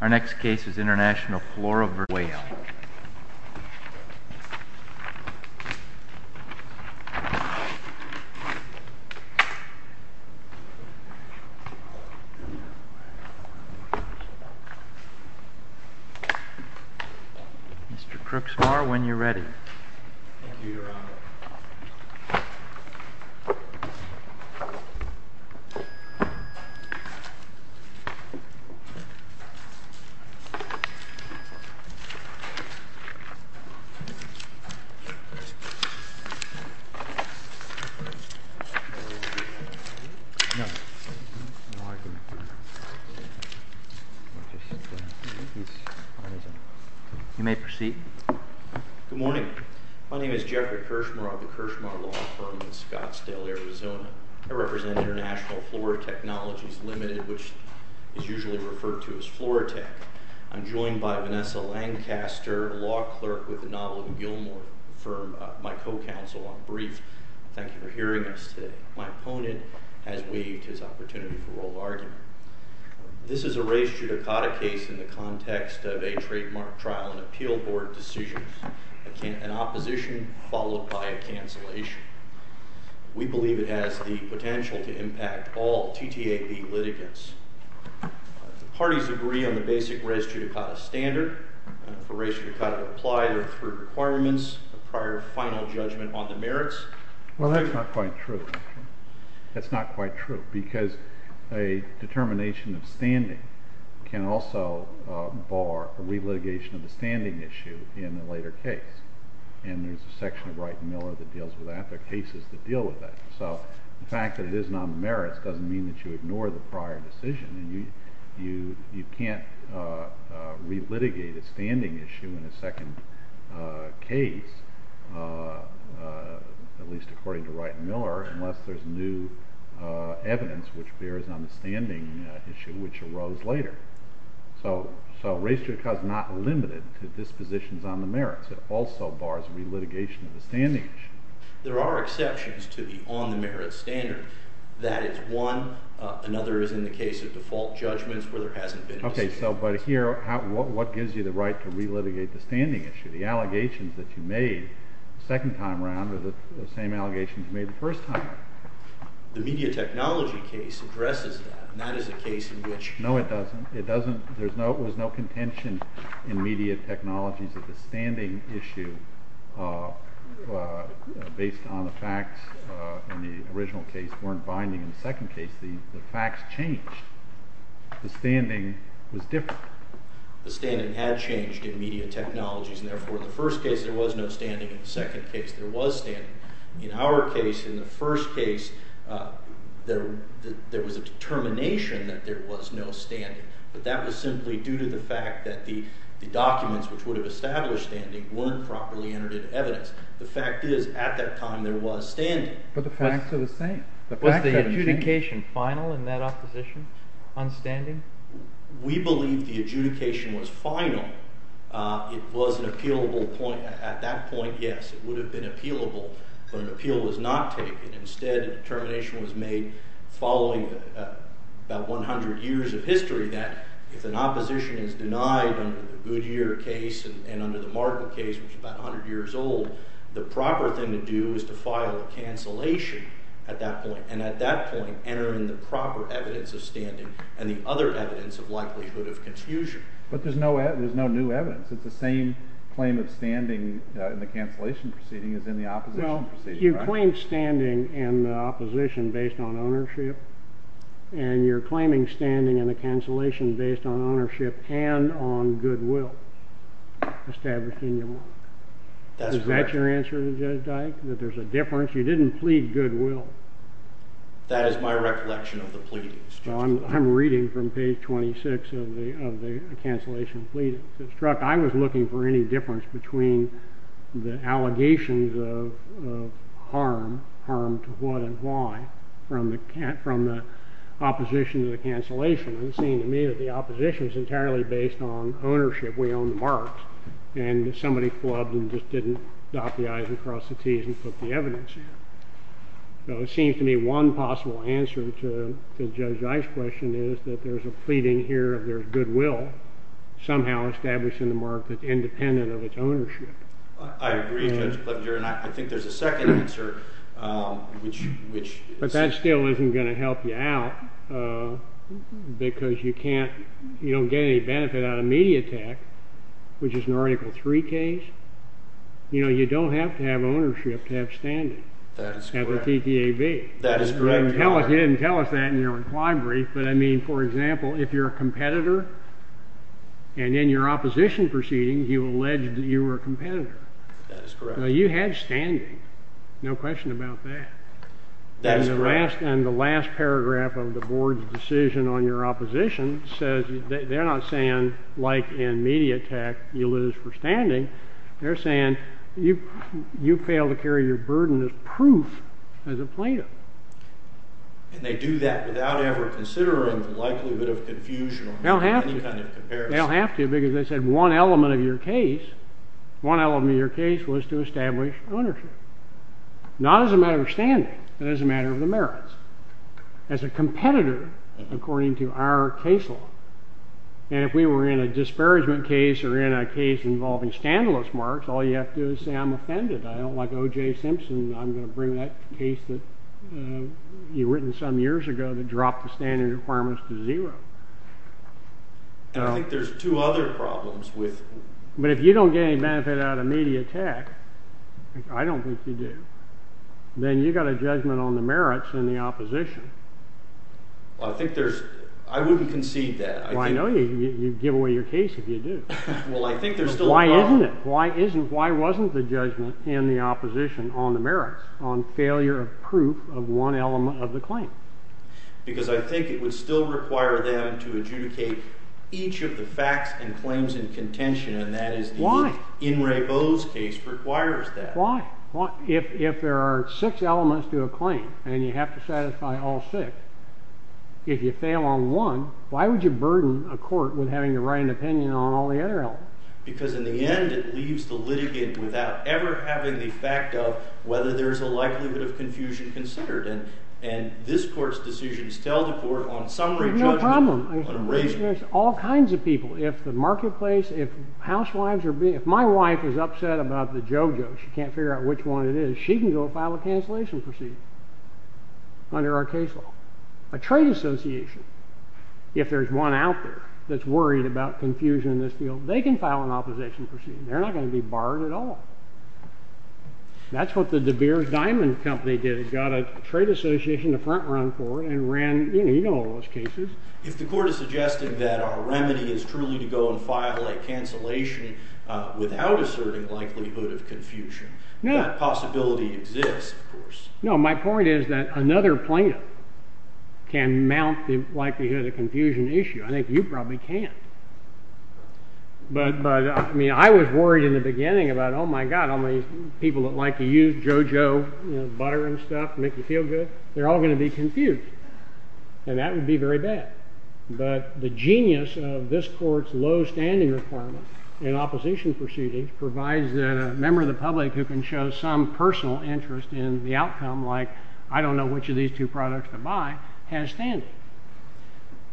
Our next case is International Flora v. Whale. Mr. Crooksmore, when you're ready. Thank you, Your Honor. You may proceed. Good morning. My name is Jeffrey Kirshmer. I'm with the Kirshmer Law Firm in Scottsdale, Arizona. I represent International Flora Technologies Limited, which is usually referred to as Flora Tech. I'm joined by Vanessa Lancaster, a law clerk with the Novelton Gilmore firm, my co-counsel on briefs. Thank you for hearing us today. My opponent has waived his opportunity for oral argument. This is a race judicata case in the context of a trademark trial and appeal board decision, an opposition followed by a cancellation. We believe it has the potential to impact all TTAB litigants. The parties agree on the basic race judicata standard. For race judicata to apply, there are three requirements, a prior final judgment on the merits. Well, that's not quite true. That's not quite true because a determination of standing can also bar a relitigation of the standing issue in a later case. And there's a section of Wright & Miller that deals with that. There are cases that deal with that. So the fact that it isn't on the merits doesn't mean that you ignore the prior decision. You can't relitigate a standing issue in a second case, at least according to Wright & Miller, unless there's new evidence which bears on the standing issue which arose later. So race judicata is not limited to dispositions on the merits. It also bars relitigation of the standing issue. There are exceptions to the on-the-merits standard. That is one. Another is in the case of default judgments where there hasn't been a decision. Okay, but here, what gives you the right to relitigate the standing issue? The allegations that you made the second time around are the same allegations you made the first time around. The media technology case addresses that, and that is a case in which— based on the facts in the original case weren't binding. In the second case, the facts changed. The standing was different. The standing had changed in media technologies, and therefore in the first case there was no standing. In the second case, there was standing. In our case, in the first case, there was a determination that there was no standing, but that was simply due to the fact that the documents which would have established standing weren't properly entered into evidence. The fact is at that time there was standing. But the facts are the same. Was the adjudication final in that opposition on standing? We believe the adjudication was final. It was an appealable point. At that point, yes, it would have been appealable, but an appeal was not taken. Instead, a determination was made following about 100 years of history that if an opposition is denied under the Goodyear case and under the Martin case, which is about 100 years old, the proper thing to do is to file a cancellation at that point, and at that point enter in the proper evidence of standing and the other evidence of likelihood of confusion. But there's no new evidence. It's the same claim of standing in the cancellation proceeding as in the opposition proceeding, right? You claim standing in the opposition based on ownership, and you're claiming standing in the cancellation based on ownership and on goodwill established in your mark. That's correct. Is that your answer to Judge Dyke, that there's a difference? You didn't plead goodwill. That is my recollection of the pleadings. I'm reading from page 26 of the cancellation pleadings. I was looking for any difference between the allegations of harm, harm to what and why, from the opposition to the cancellation, and it seemed to me that the opposition was entirely based on ownership. We own the marks, and somebody flubbed and just didn't dot the i's and cross the t's and put the evidence in. So it seems to me one possible answer to Judge Ice's question is that there's a pleading here of there's goodwill, somehow established in the mark that's independent of its ownership. I agree, Judge Plevenger, and I think there's a second answer, which is— But that still isn't going to help you out because you can't—you don't get any benefit out of Mediatek, which is an Article III case. You know, you don't have to have ownership to have standing at the TTAB. That is correct. You didn't tell us that in your reply brief, but, I mean, for example, if you're a competitor, and in your opposition proceeding you alleged that you were a competitor. That is correct. You had standing. No question about that. That is correct. And the last paragraph of the board's decision on your opposition says—they're not saying, like in Mediatek, you lose for standing. They're saying you fail to carry your burden as proof as a plaintiff. And they do that without ever considering the likelihood of confusion or any kind of comparison. They don't have to because they said one element of your case, one element of your case, was to establish ownership. Not as a matter of standing, but as a matter of the merits. As a competitor, according to our case law. And if we were in a disparagement case or in a case involving standaless marks, all you have to do is say, I'm offended. I don't like O.J. Simpson. I'm going to bring that case that you written some years ago that dropped the standing requirements to zero. I think there's two other problems with— But if you don't get any benefit out of Mediatek, I don't think you do, then you've got a judgment on the merits in the opposition. Well, I think there's—I wouldn't concede that. Well, I know you'd give away your case if you do. Well, I think there's still a problem. Why isn't it? Why wasn't the judgment in the opposition on the merits, on failure of proof of one element of the claim? Because I think it would still require them to adjudicate each of the facts and claims in contention, and that is— Why? In Ray Bo's case requires that. Why? If there are six elements to a claim, and you have to satisfy all six, if you fail on one, why would you burden a court with having to write an opinion on all the other elements? Because in the end, it leaves the litigant without ever having the fact of whether there's a likelihood of confusion considered. And this court's decision is to tell the court on summary judgment— There's no problem. —on erasure. There's all kinds of people. If the marketplace—if housewives are being—if my wife is upset about the JoJo, she can't figure out which one it is, she can go file a cancellation proceeding under our case law. A trade association, if there's one out there that's worried about confusion in this field, they can file an opposition proceeding. They're not going to be barred at all. That's what the De Beers Diamond Company did. It got a trade association to front-run for it and ran—you know all those cases. If the court is suggesting that our remedy is truly to go and file a cancellation without asserting likelihood of confusion, that possibility exists, of course. No, my point is that another plaintiff can mount the likelihood of confusion issue. I think you probably can't. But, I mean, I was worried in the beginning about, oh, my God, all these people that like to use JoJo butter and stuff to make you feel good, they're all going to be confused. And that would be very bad. But the genius of this court's low standing requirement in opposition proceedings provides that a member of the public who can show some personal interest in the outcome, like, I don't know which of these two products to buy, has standing.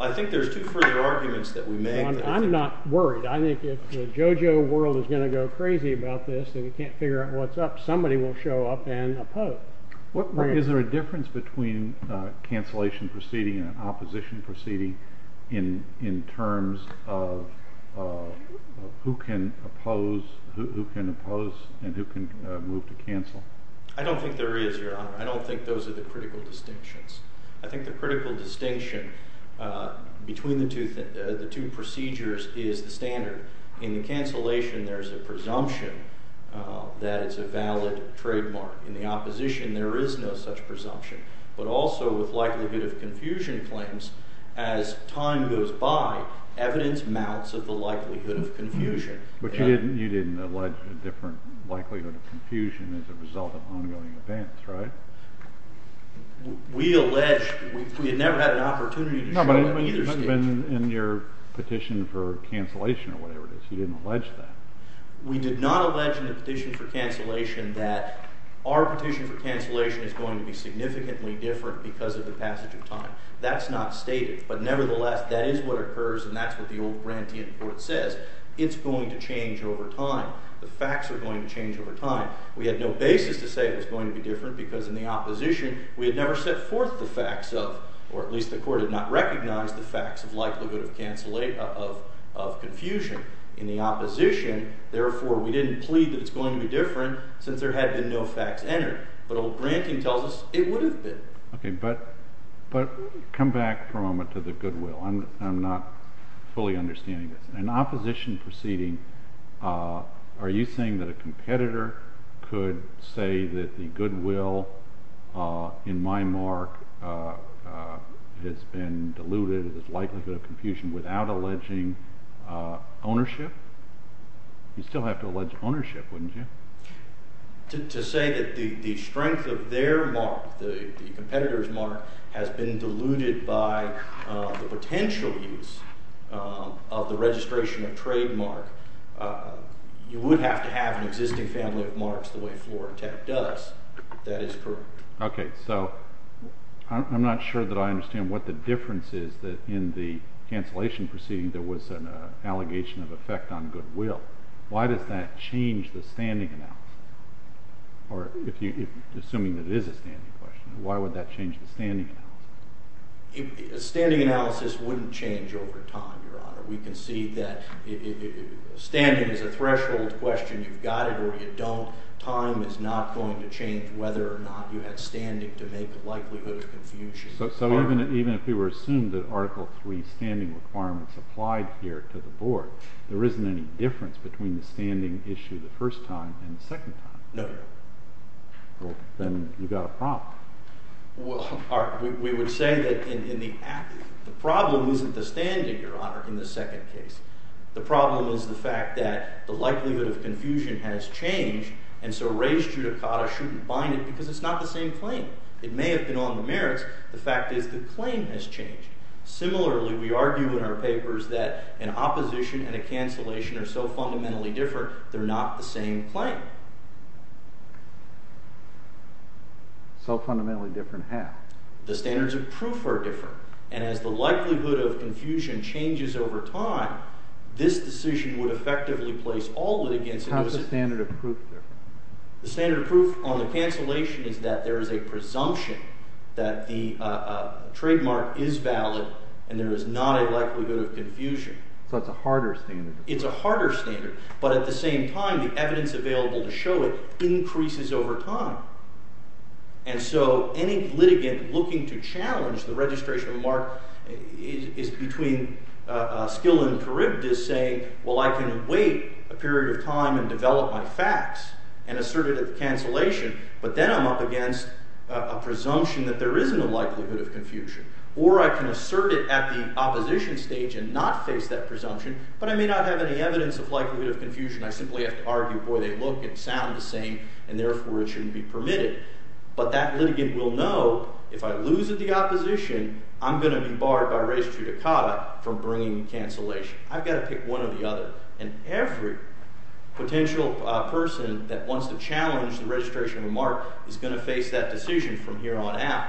I think there's two further arguments that we may— I'm not worried. I think if the JoJo world is going to go crazy about this and you can't figure out what's up, somebody will show up and oppose. Is there a difference between a cancellation proceeding and an opposition proceeding in terms of who can oppose and who can move to cancel? I don't think there is, Your Honor. I don't think those are the critical distinctions. I think the critical distinction between the two procedures is the standard. In the cancellation, there's a presumption that it's a valid trademark. In the opposition, there is no such presumption. But also, with likelihood of confusion claims, as time goes by, evidence mounts of the likelihood of confusion. But you didn't allege a different likelihood of confusion as a result of ongoing events, right? We allege—we had never had an opportunity to show that in either statute. No, but it hasn't been in your petition for cancellation or whatever it is. You didn't allege that. We did not allege in the petition for cancellation that our petition for cancellation is going to be significantly different because of the passage of time. That's not stated. But nevertheless, that is what occurs, and that's what the old grantee in court says. It's going to change over time. The facts are going to change over time. We had no basis to say it was going to be different because in the opposition, we had never set forth the facts of—or at least the court had not recognized the facts of likelihood of confusion. In the opposition, therefore, we didn't plead that it's going to be different since there had been no facts entered. But old granting tells us it would have been. Okay, but come back for a moment to the goodwill. I'm not fully understanding this. In an opposition proceeding, are you saying that a competitor could say that the goodwill in my mark has been diluted as likelihood of confusion without alleging ownership? You'd still have to allege ownership, wouldn't you? To say that the strength of their mark, the competitor's mark, has been diluted by the potential use of the registration of trademark, you would have to have an existing family of marks the way Flora Tepp does. That is correct. Okay, so I'm not sure that I understand what the difference is that in the cancellation proceeding there was an allegation of effect on goodwill. Why does that change the standing analysis? Assuming that it is a standing question, why would that change the standing analysis? A standing analysis wouldn't change over time, Your Honor. We can see that standing is a threshold question. You've got it or you don't. Time is not going to change whether or not you had standing to make a likelihood of confusion. So even if we were to assume that Article III standing requirements applied here to the board, there isn't any difference between the standing issue the first time and the second time. No, Your Honor. Then you've got a problem. We would say that the problem isn't the standing, Your Honor, in the second case. The problem is the fact that the likelihood of confusion has changed, and so res judicata shouldn't bind it because it's not the same claim. It may have been on the merits. The fact is the claim has changed. Similarly, we argue in our papers that an opposition and a cancellation are so fundamentally different they're not the same claim. So fundamentally different how? The standards of proof are different, and as the likelihood of confusion changes over time, this decision would effectively place all that against it. How is the standard of proof different? The standard of proof on the cancellation is that there is a presumption that the trademark is valid and there is not a likelihood of confusion. So it's a harder standard. It's a harder standard, but at the same time, the evidence available to show it increases over time. And so any litigant looking to challenge the registration of a mark is between skill and charybdis, saying, Well, I can wait a period of time and develop my facts and assert it at the cancellation, but then I'm up against a presumption that there isn't a likelihood of confusion. Or I can assert it at the opposition stage and not face that presumption, but I may not have any evidence of likelihood of confusion. I simply have to argue, boy, they look and sound the same, and therefore it shouldn't be permitted. But that litigant will know if I lose at the opposition, I'm going to be barred by res judicata from bringing cancellation. I've got to pick one or the other, and every potential person that wants to challenge the registration of a mark is going to face that decision from here on out.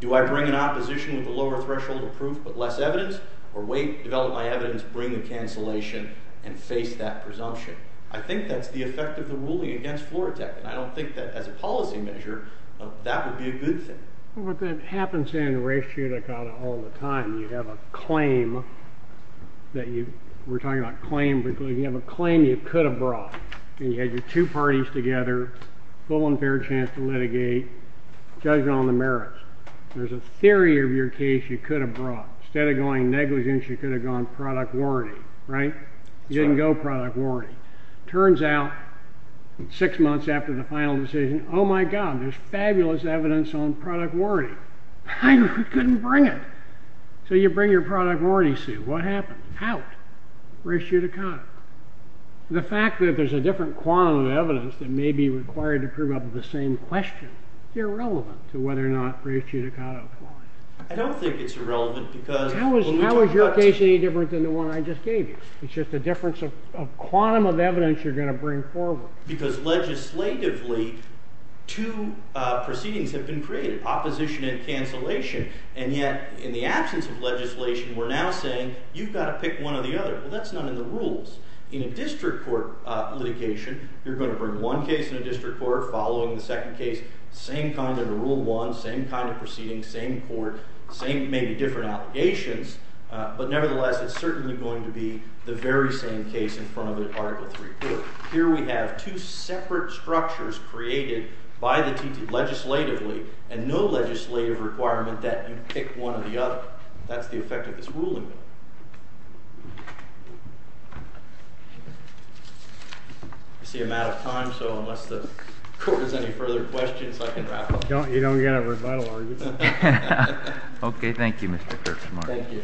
Do I bring an opposition with a lower threshold of proof but less evidence, or wait, develop my evidence, bring the cancellation, and face that presumption? I think that's the effect of the ruling against Florotek, and I don't think that as a policy measure that would be a good thing. But that happens in res judicata all the time. You have a claim that you—we're talking about claim, but you have a claim you could have brought, and you had your two parties together, full and fair chance to litigate, judging on the merits. There's a theory of your case you could have brought. Instead of going negligence, you could have gone product warranty, right? You didn't go product warranty. Turns out, six months after the final decision, oh, my God, there's fabulous evidence on product warranty. I couldn't bring it. So you bring your product warranty suit. What happens? Out. Res judicata. The fact that there's a different quantum of evidence that may be required to prove up to the same question is irrelevant to whether or not res judicata applies. I don't think it's irrelevant because— How is your case any different than the one I just gave you? It's just a difference of quantum of evidence you're going to bring forward. Because legislatively, two proceedings have been created, opposition and cancellation. And yet in the absence of legislation, we're now saying you've got to pick one or the other. Well, that's not in the rules. In a district court litigation, you're going to bring one case in a district court, following the second case, same kind of rule one, same kind of proceedings, same court, maybe different allegations. But nevertheless, it's certainly going to be the very same case in front of an Article III court. Here we have two separate structures created by the T.T. legislatively and no legislative requirement that you pick one or the other. That's the effect of this ruling. I see I'm out of time, so unless the court has any further questions, I can wrap up. You don't get a rebuttal argument. Okay, thank you, Mr. Kirchner.